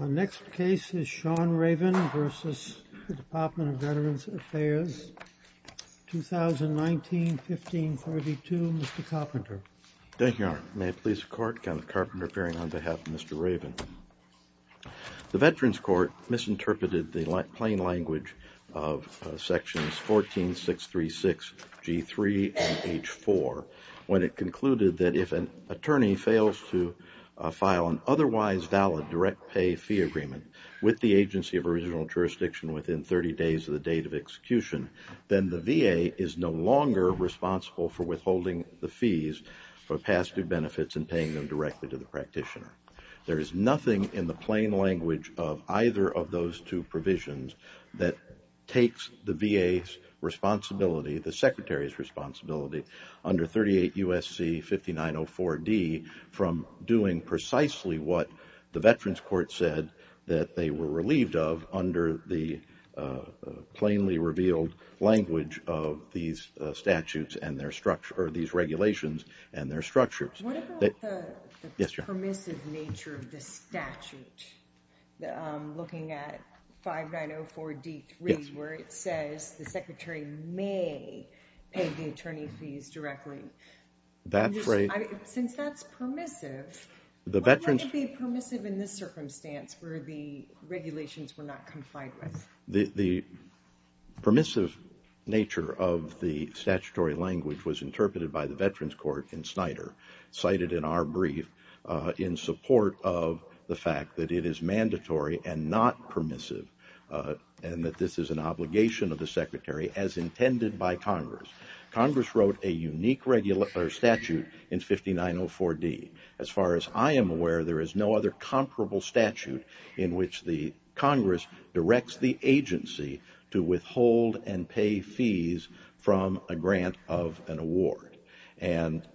Our next case is Sean Ravin v. Department of Veterans Affairs, 2019-15-14. Ravin v. Department of Veterans Affairs, 2019-15-15. Ravin v. Department of Veterans Affairs, 2019-15-15. Ravin v. Department of Veterans Affairs, 2019-15-15. Ravin v. Department of Veterans Affairs, 2019-15-15. Ravin v. Department of Veterans Affairs, 2019-15-15. Permissive nature of the statutory language was interpreted by the Veterans Court in Snyder, cited in our brief in support of the fact that it is mandatory and not permissive, and that this is an obligation of the Secretary as intended by Congress. Congress wrote a unique statute in 5904D. As far as I am aware, there is no other comparable statute in which the Congress directs the agency to withhold and pay fees from a grant of an award, and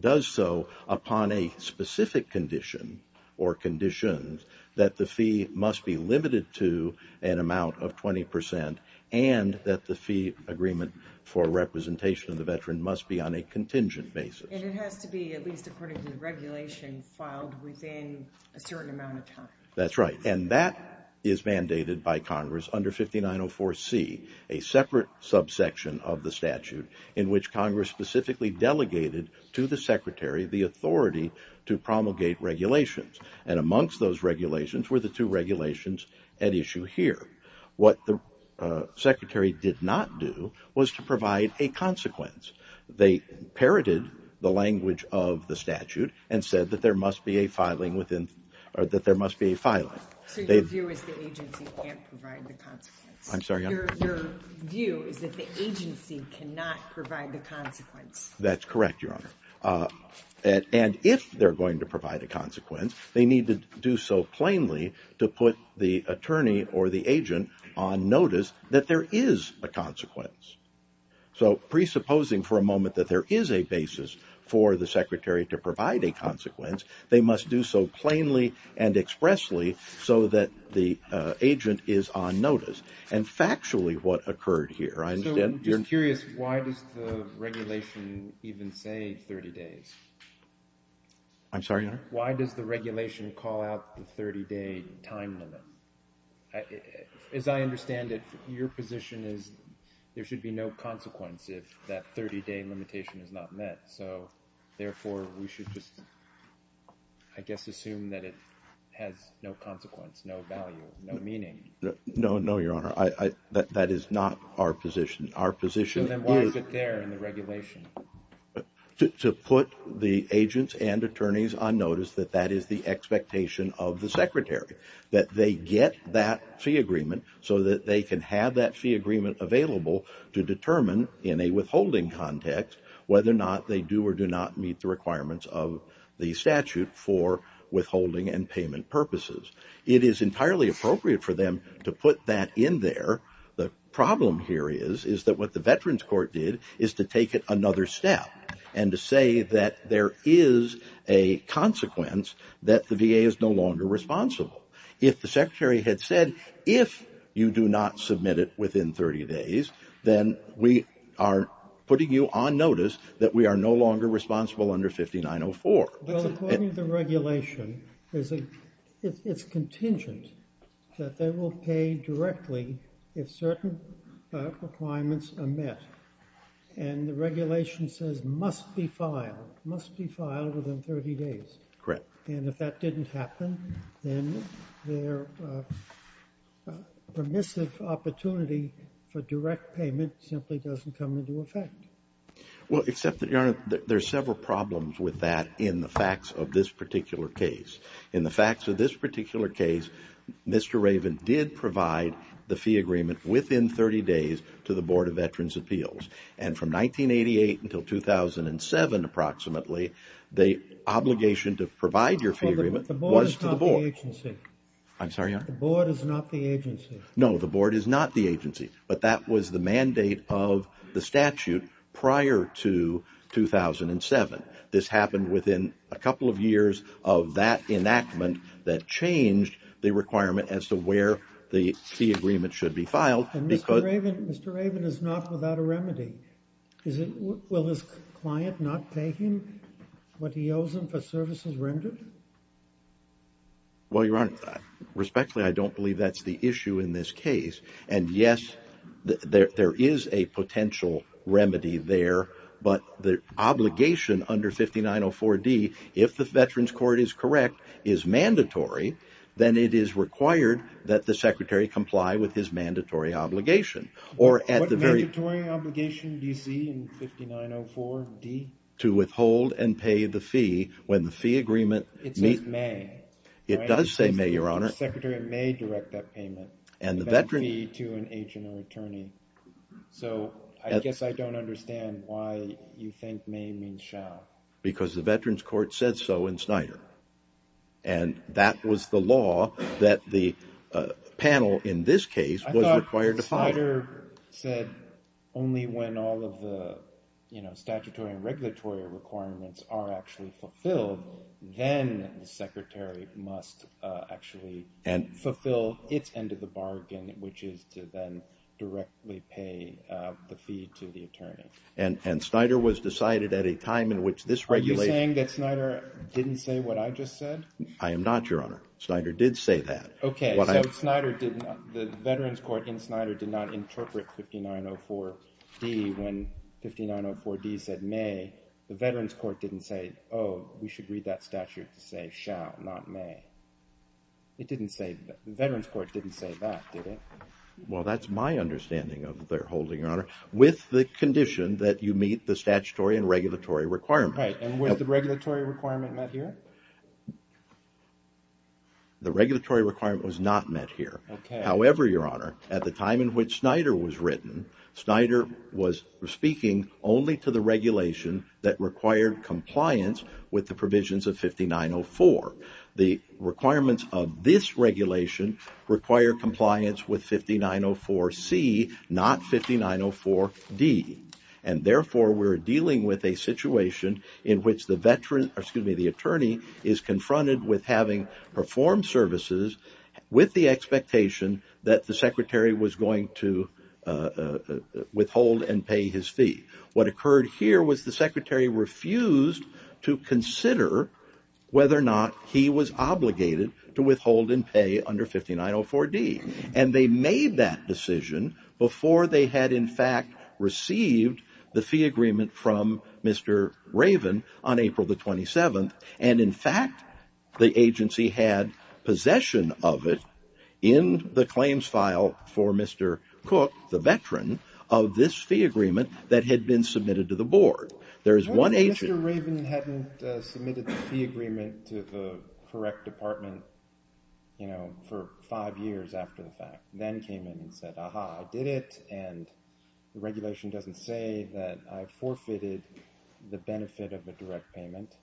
does so upon a specific condition or conditions that the fee must be limited to an amount of 20 percent and that the fee agreement for representation of the veteran must be on a contingent basis. And it has to be, at least according to the regulation, filed within a certain amount of time. That's right, and that is mandated by Congress under 5904C, a separate subsection of the statute, in which Congress specifically delegated to the Secretary the authority to promulgate regulations, and amongst those regulations were the two regulations at issue here. What the Secretary did not do was to provide a consequence. They parroted the language of the statute and said that there must be a filing. So your view is the agency can't provide the consequence? I'm sorry? Your view is that the agency cannot provide the consequence? That's correct, Your Honor. And if they're going to provide a consequence, they need to do so plainly to put the attorney or the agent on notice that there is a consequence. So presupposing for a moment that there is a basis for the Secretary to provide a consequence, they must do so plainly and expressly so that the agent is on notice, and factually what occurred here. So I'm just curious, why does the regulation even say 30 days? I'm sorry, Your Honor? Why does the regulation call out the 30-day time limit? As I understand it, your position is there should be no consequence if that 30-day limitation is not met. So, therefore, we should just, I guess, assume that it has no consequence, no value, no meaning. No, Your Honor. That is not our position. So then why is it there in the regulation? To put the agents and attorneys on notice that that is the expectation of the Secretary, that they get that fee agreement so that they can have that fee agreement available to determine in a withholding context whether or not they do or do not meet the requirements of the statute for withholding and payment purposes. It is entirely appropriate for them to put that in there. The problem here is that what the Veterans Court did is to take it another step and to say that there is a consequence that the VA is no longer responsible. If the Secretary had said, if you do not submit it within 30 days, then we are putting you on notice that we are no longer responsible under 5904. Well, according to the regulation, it's contingent that they will pay directly if certain requirements are met. And the regulation says must be filed, must be filed within 30 days. Correct. And if that didn't happen, then their permissive opportunity for direct payment simply doesn't come into effect. Well, except that, Your Honor, there are several problems with that in the facts of this particular case. In the facts of this particular case, Mr. Raven did provide the fee agreement within 30 days to the Board of Veterans' Appeals. And from 1988 until 2007 approximately, the obligation to provide your fee agreement was to the Board. Well, the Board is not the agency. I'm sorry, Your Honor? The Board is not the agency. No, the Board is not the agency, but that was the mandate of the statute prior to 2007. This happened within a couple of years of that enactment that changed the requirement as to where the fee agreement should be filed. And Mr. Raven is not without a remedy. Will his client not pay him what he owes him for services rendered? Well, Your Honor, respectfully, I don't believe that's the issue in this case. And, yes, there is a potential remedy there, but the obligation under 5904D, if the Veterans' Court is correct, is mandatory, then it is required that the Secretary comply with his mandatory obligation. What mandatory obligation do you see in 5904D? To withhold and pay the fee when the fee agreement meets. It says may. It does say may, Your Honor. The Secretary may direct that payment. To an agent or attorney. So I guess I don't understand why you think may means shall. Because the Veterans' Court said so in Snyder. And that was the law that the panel in this case was required to follow. I thought Snyder said only when all of the statutory and regulatory requirements are actually fulfilled, then the Secretary must actually fulfill its end of the bargain, which is to then directly pay the fee to the attorney. And Snyder was decided at a time in which this regulation- Are you saying that Snyder didn't say what I just said? I am not, Your Honor. Snyder did say that. Okay, so the Veterans' Court in Snyder did not interpret 5904D when 5904D said may. The Veterans' Court didn't say, oh, we should read that statute to say shall, not may. It didn't say that. The Veterans' Court didn't say that, did it? Well, that's my understanding of their holding, Your Honor, with the condition that you meet the statutory and regulatory requirements. Right, and was the regulatory requirement met here? The regulatory requirement was not met here. Okay. However, Your Honor, at the time in which Snyder was written, Snyder was speaking only to the regulation that required compliance with the provisions of 5904. The requirements of this regulation require compliance with 5904C, not 5904D. And therefore, we're dealing with a situation in which the attorney is confronted with having performed services with the expectation that the secretary was going to withhold and pay his fee. What occurred here was the secretary refused to consider whether or not he was obligated to withhold and pay under 5904D. And they made that decision before they had, in fact, received the fee agreement from Mr. Raven on April the 27th. And, in fact, the agency had possession of it in the claims file for Mr. Cook, the veteran, of this fee agreement that had been submitted to the board. What if Mr. Raven hadn't submitted the fee agreement to the correct department, you know, for five years after the fact? Then came in and said, aha, I did it, and the regulation doesn't say that I forfeited the benefit of a direct payment,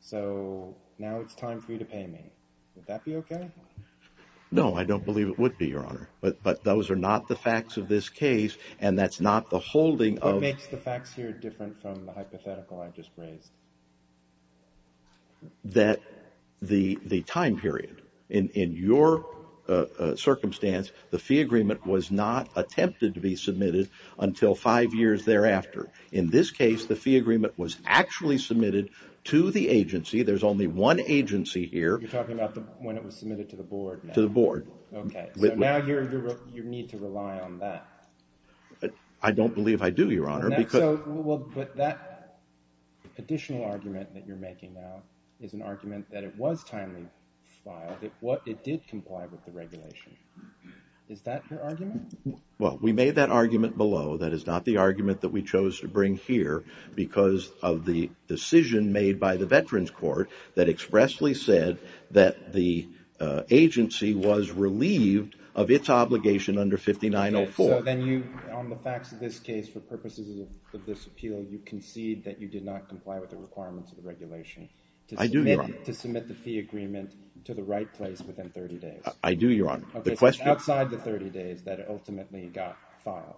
so now it's time for you to pay me. Would that be okay? No, I don't believe it would be, Your Honor. But those are not the facts of this case, and that's not the holding of What makes the facts here different from the hypothetical I just raised? That the time period, in your circumstance, the fee agreement was not attempted to be submitted until five years thereafter. In this case, the fee agreement was actually submitted to the agency. There's only one agency here. You're talking about when it was submitted to the board? To the board. Okay, so now you need to rely on that. I don't believe I do, Your Honor. But that additional argument that you're making now is an argument that it was timely filed. It did comply with the regulation. Is that your argument? Well, we made that argument below. That is not the argument that we chose to bring here because of the decision made by the Veterans Court that expressly said that the agency was relieved of its obligation under 5904. So then you, on the facts of this case, for purposes of this appeal, you concede that you did not comply with the requirements of the regulation. I do, Your Honor. To submit the fee agreement to the right place within 30 days. I do, Your Honor. Okay, so it's outside the 30 days that it ultimately got filed.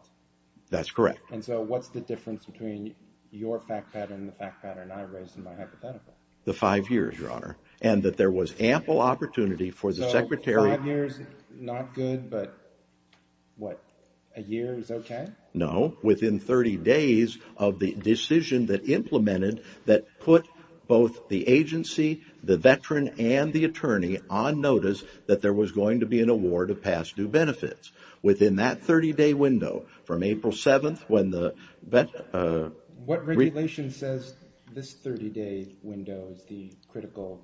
That's correct. And so what's the difference between your fact pattern and the fact pattern I raised in my hypothetical? The five years, Your Honor, and that there was ample opportunity for the Secretary Five years, not good, but what, a year is okay? No, within 30 days of the decision that implemented that put both the agency, the veteran, and the attorney on notice that there was going to be an award of past due benefits. Within that 30-day window from April 7th when the What regulation says this 30-day window is the critical?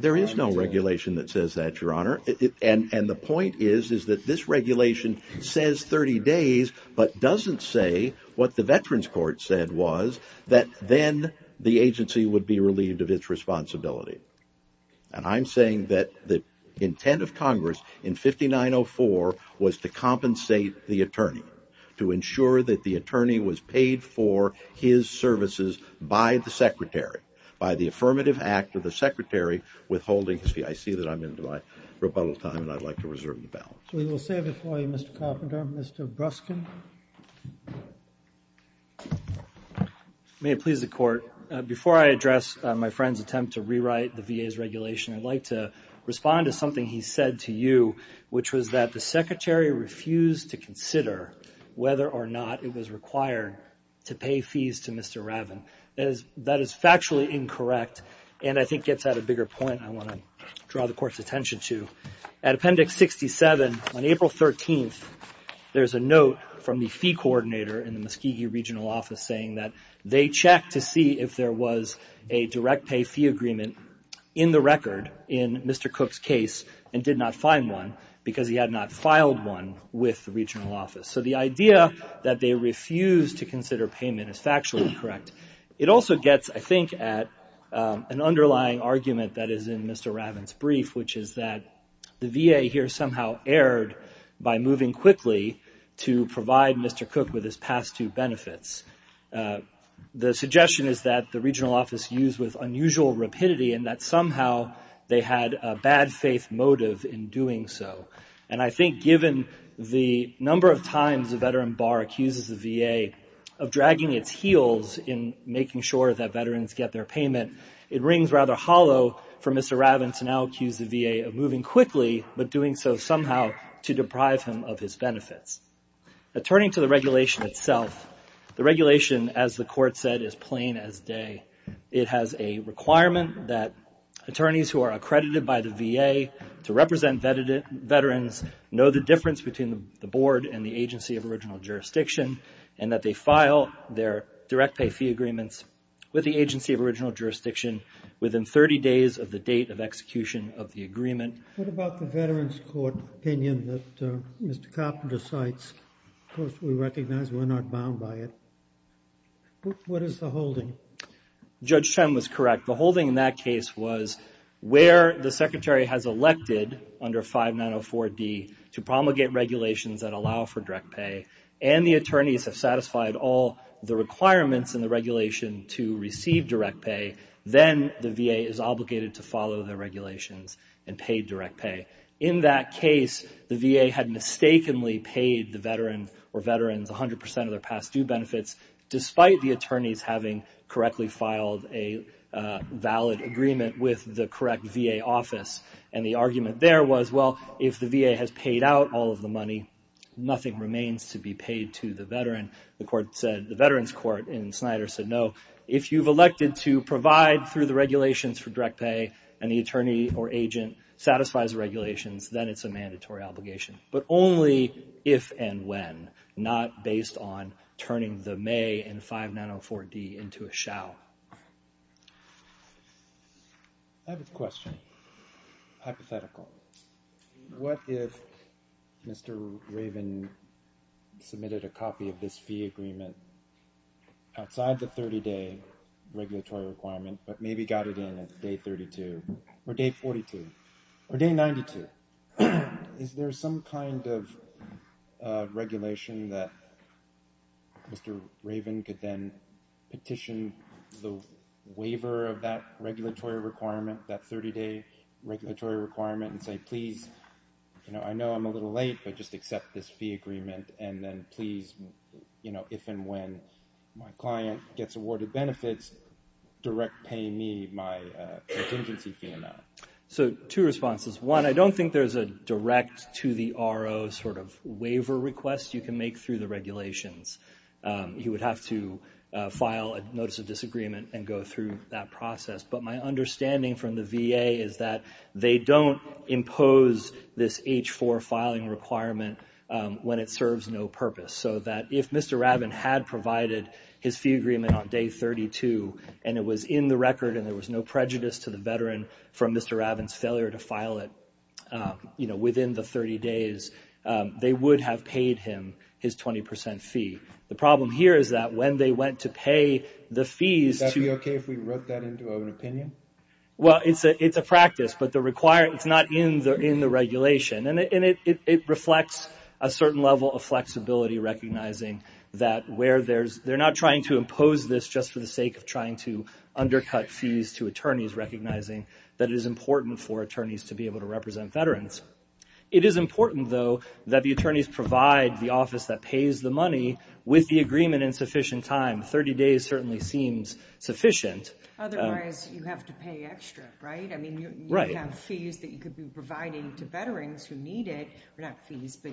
There is no regulation that says that, Your Honor. And the point is that this regulation says 30 days, but doesn't say what the veterans court said was that then the agency would be relieved of its responsibility. And I'm saying that the intent of Congress in 5904 was to compensate the attorney. To ensure that the attorney was paid for his services by the Secretary. By the affirmative act of the Secretary withholding his fee. I see that I'm into my rebuttal time, and I'd like to reserve the balance. We will save it for you, Mr. Carpenter. Mr. Bruskin. May it please the court. Before I address my friend's attempt to rewrite the VA's regulation, I'd like to respond to something he said to you, which was that the Secretary refused to consider whether or not it was required to pay fees to Mr. Ravin. That is factually incorrect, and I think gets at a bigger point I want to draw the court's attention to. At Appendix 67, on April 13th, there's a note from the fee coordinator in the Muskegee Regional Office saying that they checked to see if there was a direct pay fee agreement in the record in Mr. Cook's case, and did not find one because he had not filed one with the regional office. So the idea that they refused to consider payment is factually incorrect. It also gets, I think, at an underlying argument that is in Mr. Ravin's brief, which is that the VA here somehow erred by moving quickly to provide Mr. Cook with his past due benefits. The suggestion is that the regional office used with unusual rapidity and that somehow they had a bad faith motive in doing so. And I think given the number of times a veteran bar accuses the VA of dragging its heels in making sure that veterans get their payment, it rings rather hollow for Mr. Ravin to now accuse the VA of moving quickly, but doing so somehow to deprive him of his benefits. Turning to the regulation itself, the regulation, as the court said, is plain as day. It has a requirement that attorneys who are accredited by the VA to represent veterans know the difference between the board and the agency of original jurisdiction, and that they file their direct pay fee agreements with the agency of original jurisdiction within 30 days of the date of execution of the agreement. What about the Veterans Court opinion that Mr. Carpenter cites? Of course, we recognize we're not bound by it. What is the holding? Judge Chen was correct. The holding in that case was where the secretary has elected under 5904D to promulgate regulations that allow for direct pay, and the attorneys have satisfied all the requirements in the regulation to receive direct pay, then the VA is obligated to follow the regulations and pay direct pay. In that case, the VA had mistakenly paid the veteran or veterans 100 percent of their past due benefits, despite the attorneys having correctly filed a valid agreement with the correct VA office, and the argument there was, well, if the VA has paid out all of the money, nothing remains to be paid to the veteran. The Veterans Court in Snyder said, no, if you've elected to provide through the regulations for direct pay and the attorney or agent satisfies the regulations, then it's a mandatory obligation, but only if and when, not based on turning the may in 5904D into a shall. I have a question, hypothetical. What if Mr. Raven submitted a copy of this fee agreement outside the 30-day regulatory requirement but maybe got it in at day 32 or day 42 or day 92? Is there some kind of regulation that Mr. Raven could then petition the waiver of that regulatory requirement, that 30-day regulatory requirement, and say, please, I know I'm a little late, but just accept this fee agreement, and then please, if and when my client gets awarded benefits, direct pay me my contingency fee amount? So, two responses. One, I don't think there's a direct to the RO sort of waiver request you can make through the regulations. You would have to file a notice of disagreement and go through that process, but my understanding from the VA is that they don't impose this H-4 filing requirement when it serves no purpose, so that if Mr. Raven had provided his fee agreement on day 32 and it was in the record and there was no prejudice to the veteran from Mr. Raven's failure to file it, you know, within the 30 days, they would have paid him his 20 percent fee. The problem here is that when they went to pay the fees to- Well, it's a practice, but it's not in the regulation, and it reflects a certain level of flexibility recognizing that where there's- they're not trying to impose this just for the sake of trying to undercut fees to attorneys, recognizing that it is important for attorneys to be able to represent veterans. It is important, though, that the attorneys provide the office that pays the money with the agreement in sufficient time. 30 days certainly seems sufficient. Otherwise, you have to pay extra, right? I mean, you have fees that you could be providing to veterans who need it, not fees, but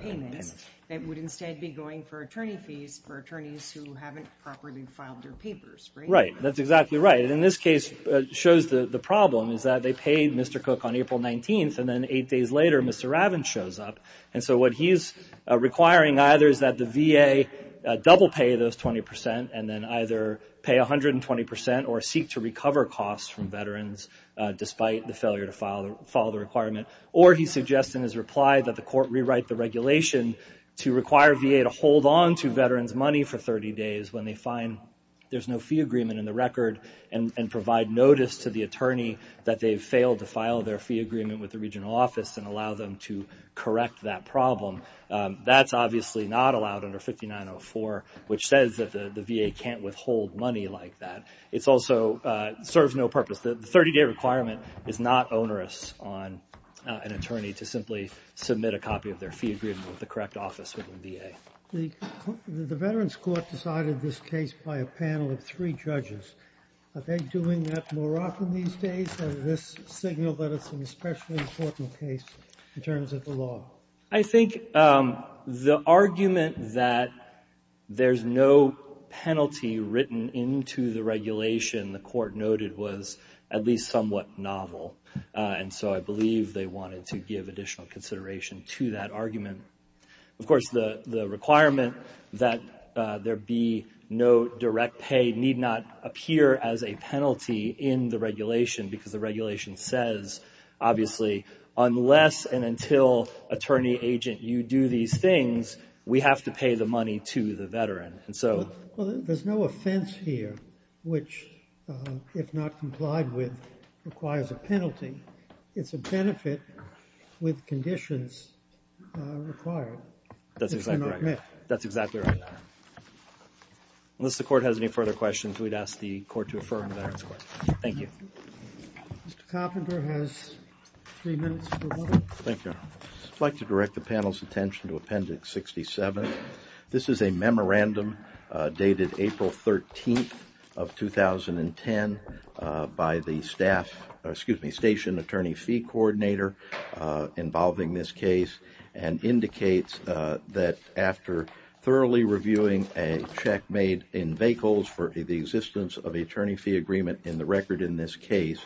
payments, that would instead be going for attorney fees for attorneys who haven't properly filed their papers, right? Right. That's exactly right. And in this case, it shows the problem is that they paid Mr. Cook on April 19th, and then eight days later, Mr. Raven shows up, and so what he's requiring either is that the VA double pay those 20 percent and then either pay 120 percent or seek to recover costs from veterans despite the failure to follow the requirement, or he suggests in his reply that the court rewrite the regulation to require VA to hold on to veterans' money for 30 days when they find there's no fee agreement in the record and provide notice to the attorney that they've failed to file their fee agreement with the regional office and allow them to correct that problem. That's obviously not allowed under 5904, which says that the VA can't withhold money like that. It also serves no purpose. The 30-day requirement is not onerous on an attorney to simply submit a copy of their fee agreement with the correct office within VA. The Veterans Court decided this case by a panel of three judges. Are they doing that more often these days? Does this signal that it's an especially important case in terms of the law? I think the argument that there's no penalty written into the regulation the court noted was at least somewhat novel, and so I believe they wanted to give additional consideration to that argument. Of course, the requirement that there be no direct pay need not appear as a penalty in the regulation because the regulation says, obviously, unless and until attorney-agent you do these things, we have to pay the money to the veteran. Well, there's no offense here which, if not complied with, requires a penalty. It's a benefit with conditions required. That's exactly right. That's exactly right. Unless the court has any further questions, we'd ask the court to affirm the Veterans Court. Thank you. Mr. Coffin has three minutes for one. Thank you. I'd like to direct the panel's attention to Appendix 67. This is a memorandum dated April 13th of 2010 by the station attorney fee coordinator involving this case and indicates that after thoroughly reviewing a check made in vehicles for the existence of an attorney fee agreement in the record in this case,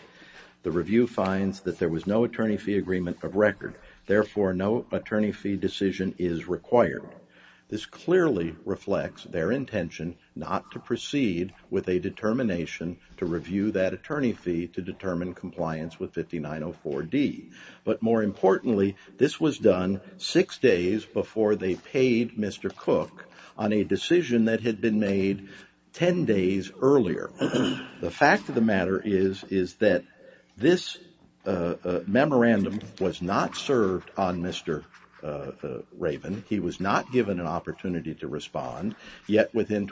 the review finds that there was no attorney fee agreement of record. Therefore, no attorney fee decision is required. This clearly reflects their intention not to proceed with a determination to review that attorney fee to determine compliance with 5904D. But more importantly, this was done six days before they paid Mr. Cook on a decision that had been made ten days earlier. The fact of the matter is that this memorandum was not served on Mr. Raven. He was not given an opportunity to respond, yet within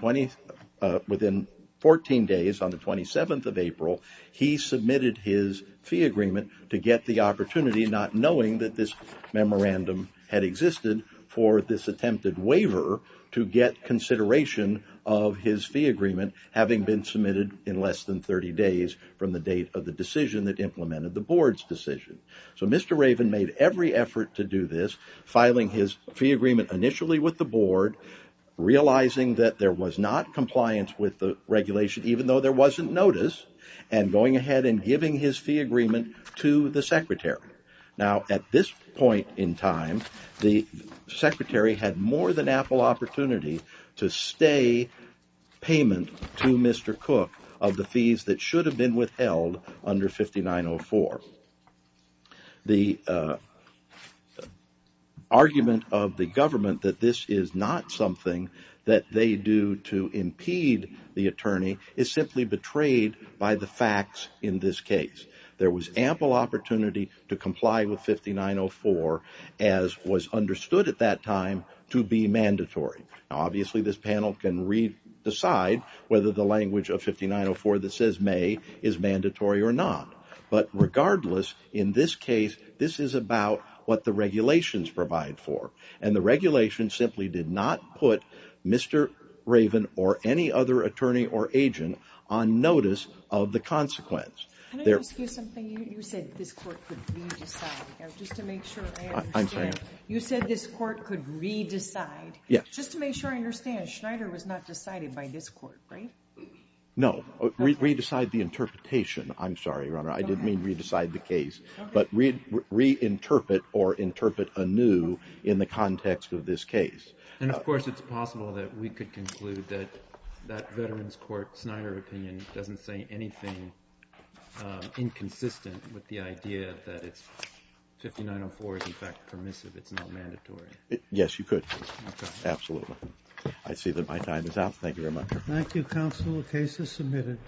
14 days on the 27th of April, he submitted his fee agreement to get the opportunity, not knowing that this memorandum had existed, for this attempted waiver to get consideration of his fee agreement, having been submitted in less than 30 days from the date of the decision that implemented the board's decision. So Mr. Raven made every effort to do this, filing his fee agreement initially with the board, realizing that there was not compliance with the regulation, even though there wasn't notice, and going ahead and giving his fee agreement to the secretary. Now, at this point in time, the secretary had more than ample opportunity to stay payment to Mr. Cook of the fees that should have been withheld under 5904. The argument of the government that this is not something that they do to impede the attorney is simply betrayed by the facts in this case. There was ample opportunity to comply with 5904, as was understood at that time, to be mandatory. Now, obviously, this panel can decide whether the language of 5904 that says may is mandatory or not. But regardless, in this case, this is about what the regulations provide for, and the regulations simply did not put Mr. Raven or any other attorney or agent on notice of the consequence. Can I ask you something? You said this court could re-decide. Just to make sure I understand. I'm sorry? You said this court could re-decide. Yes. Just to make sure I understand, Schneider was not decided by this court, right? No. Re-decide the interpretation. I'm sorry, Your Honor. I didn't mean re-decide the case. But re-interpret or interpret anew in the context of this case. And, of course, it's possible that we could conclude that that Veterans Court Schneider opinion doesn't say anything inconsistent with the idea that 5904 is, in fact, permissive. It's not mandatory. Yes, you could. Okay. Absolutely. I see that my time is up. Thank you very much. Thank you, counsel. The case is submitted.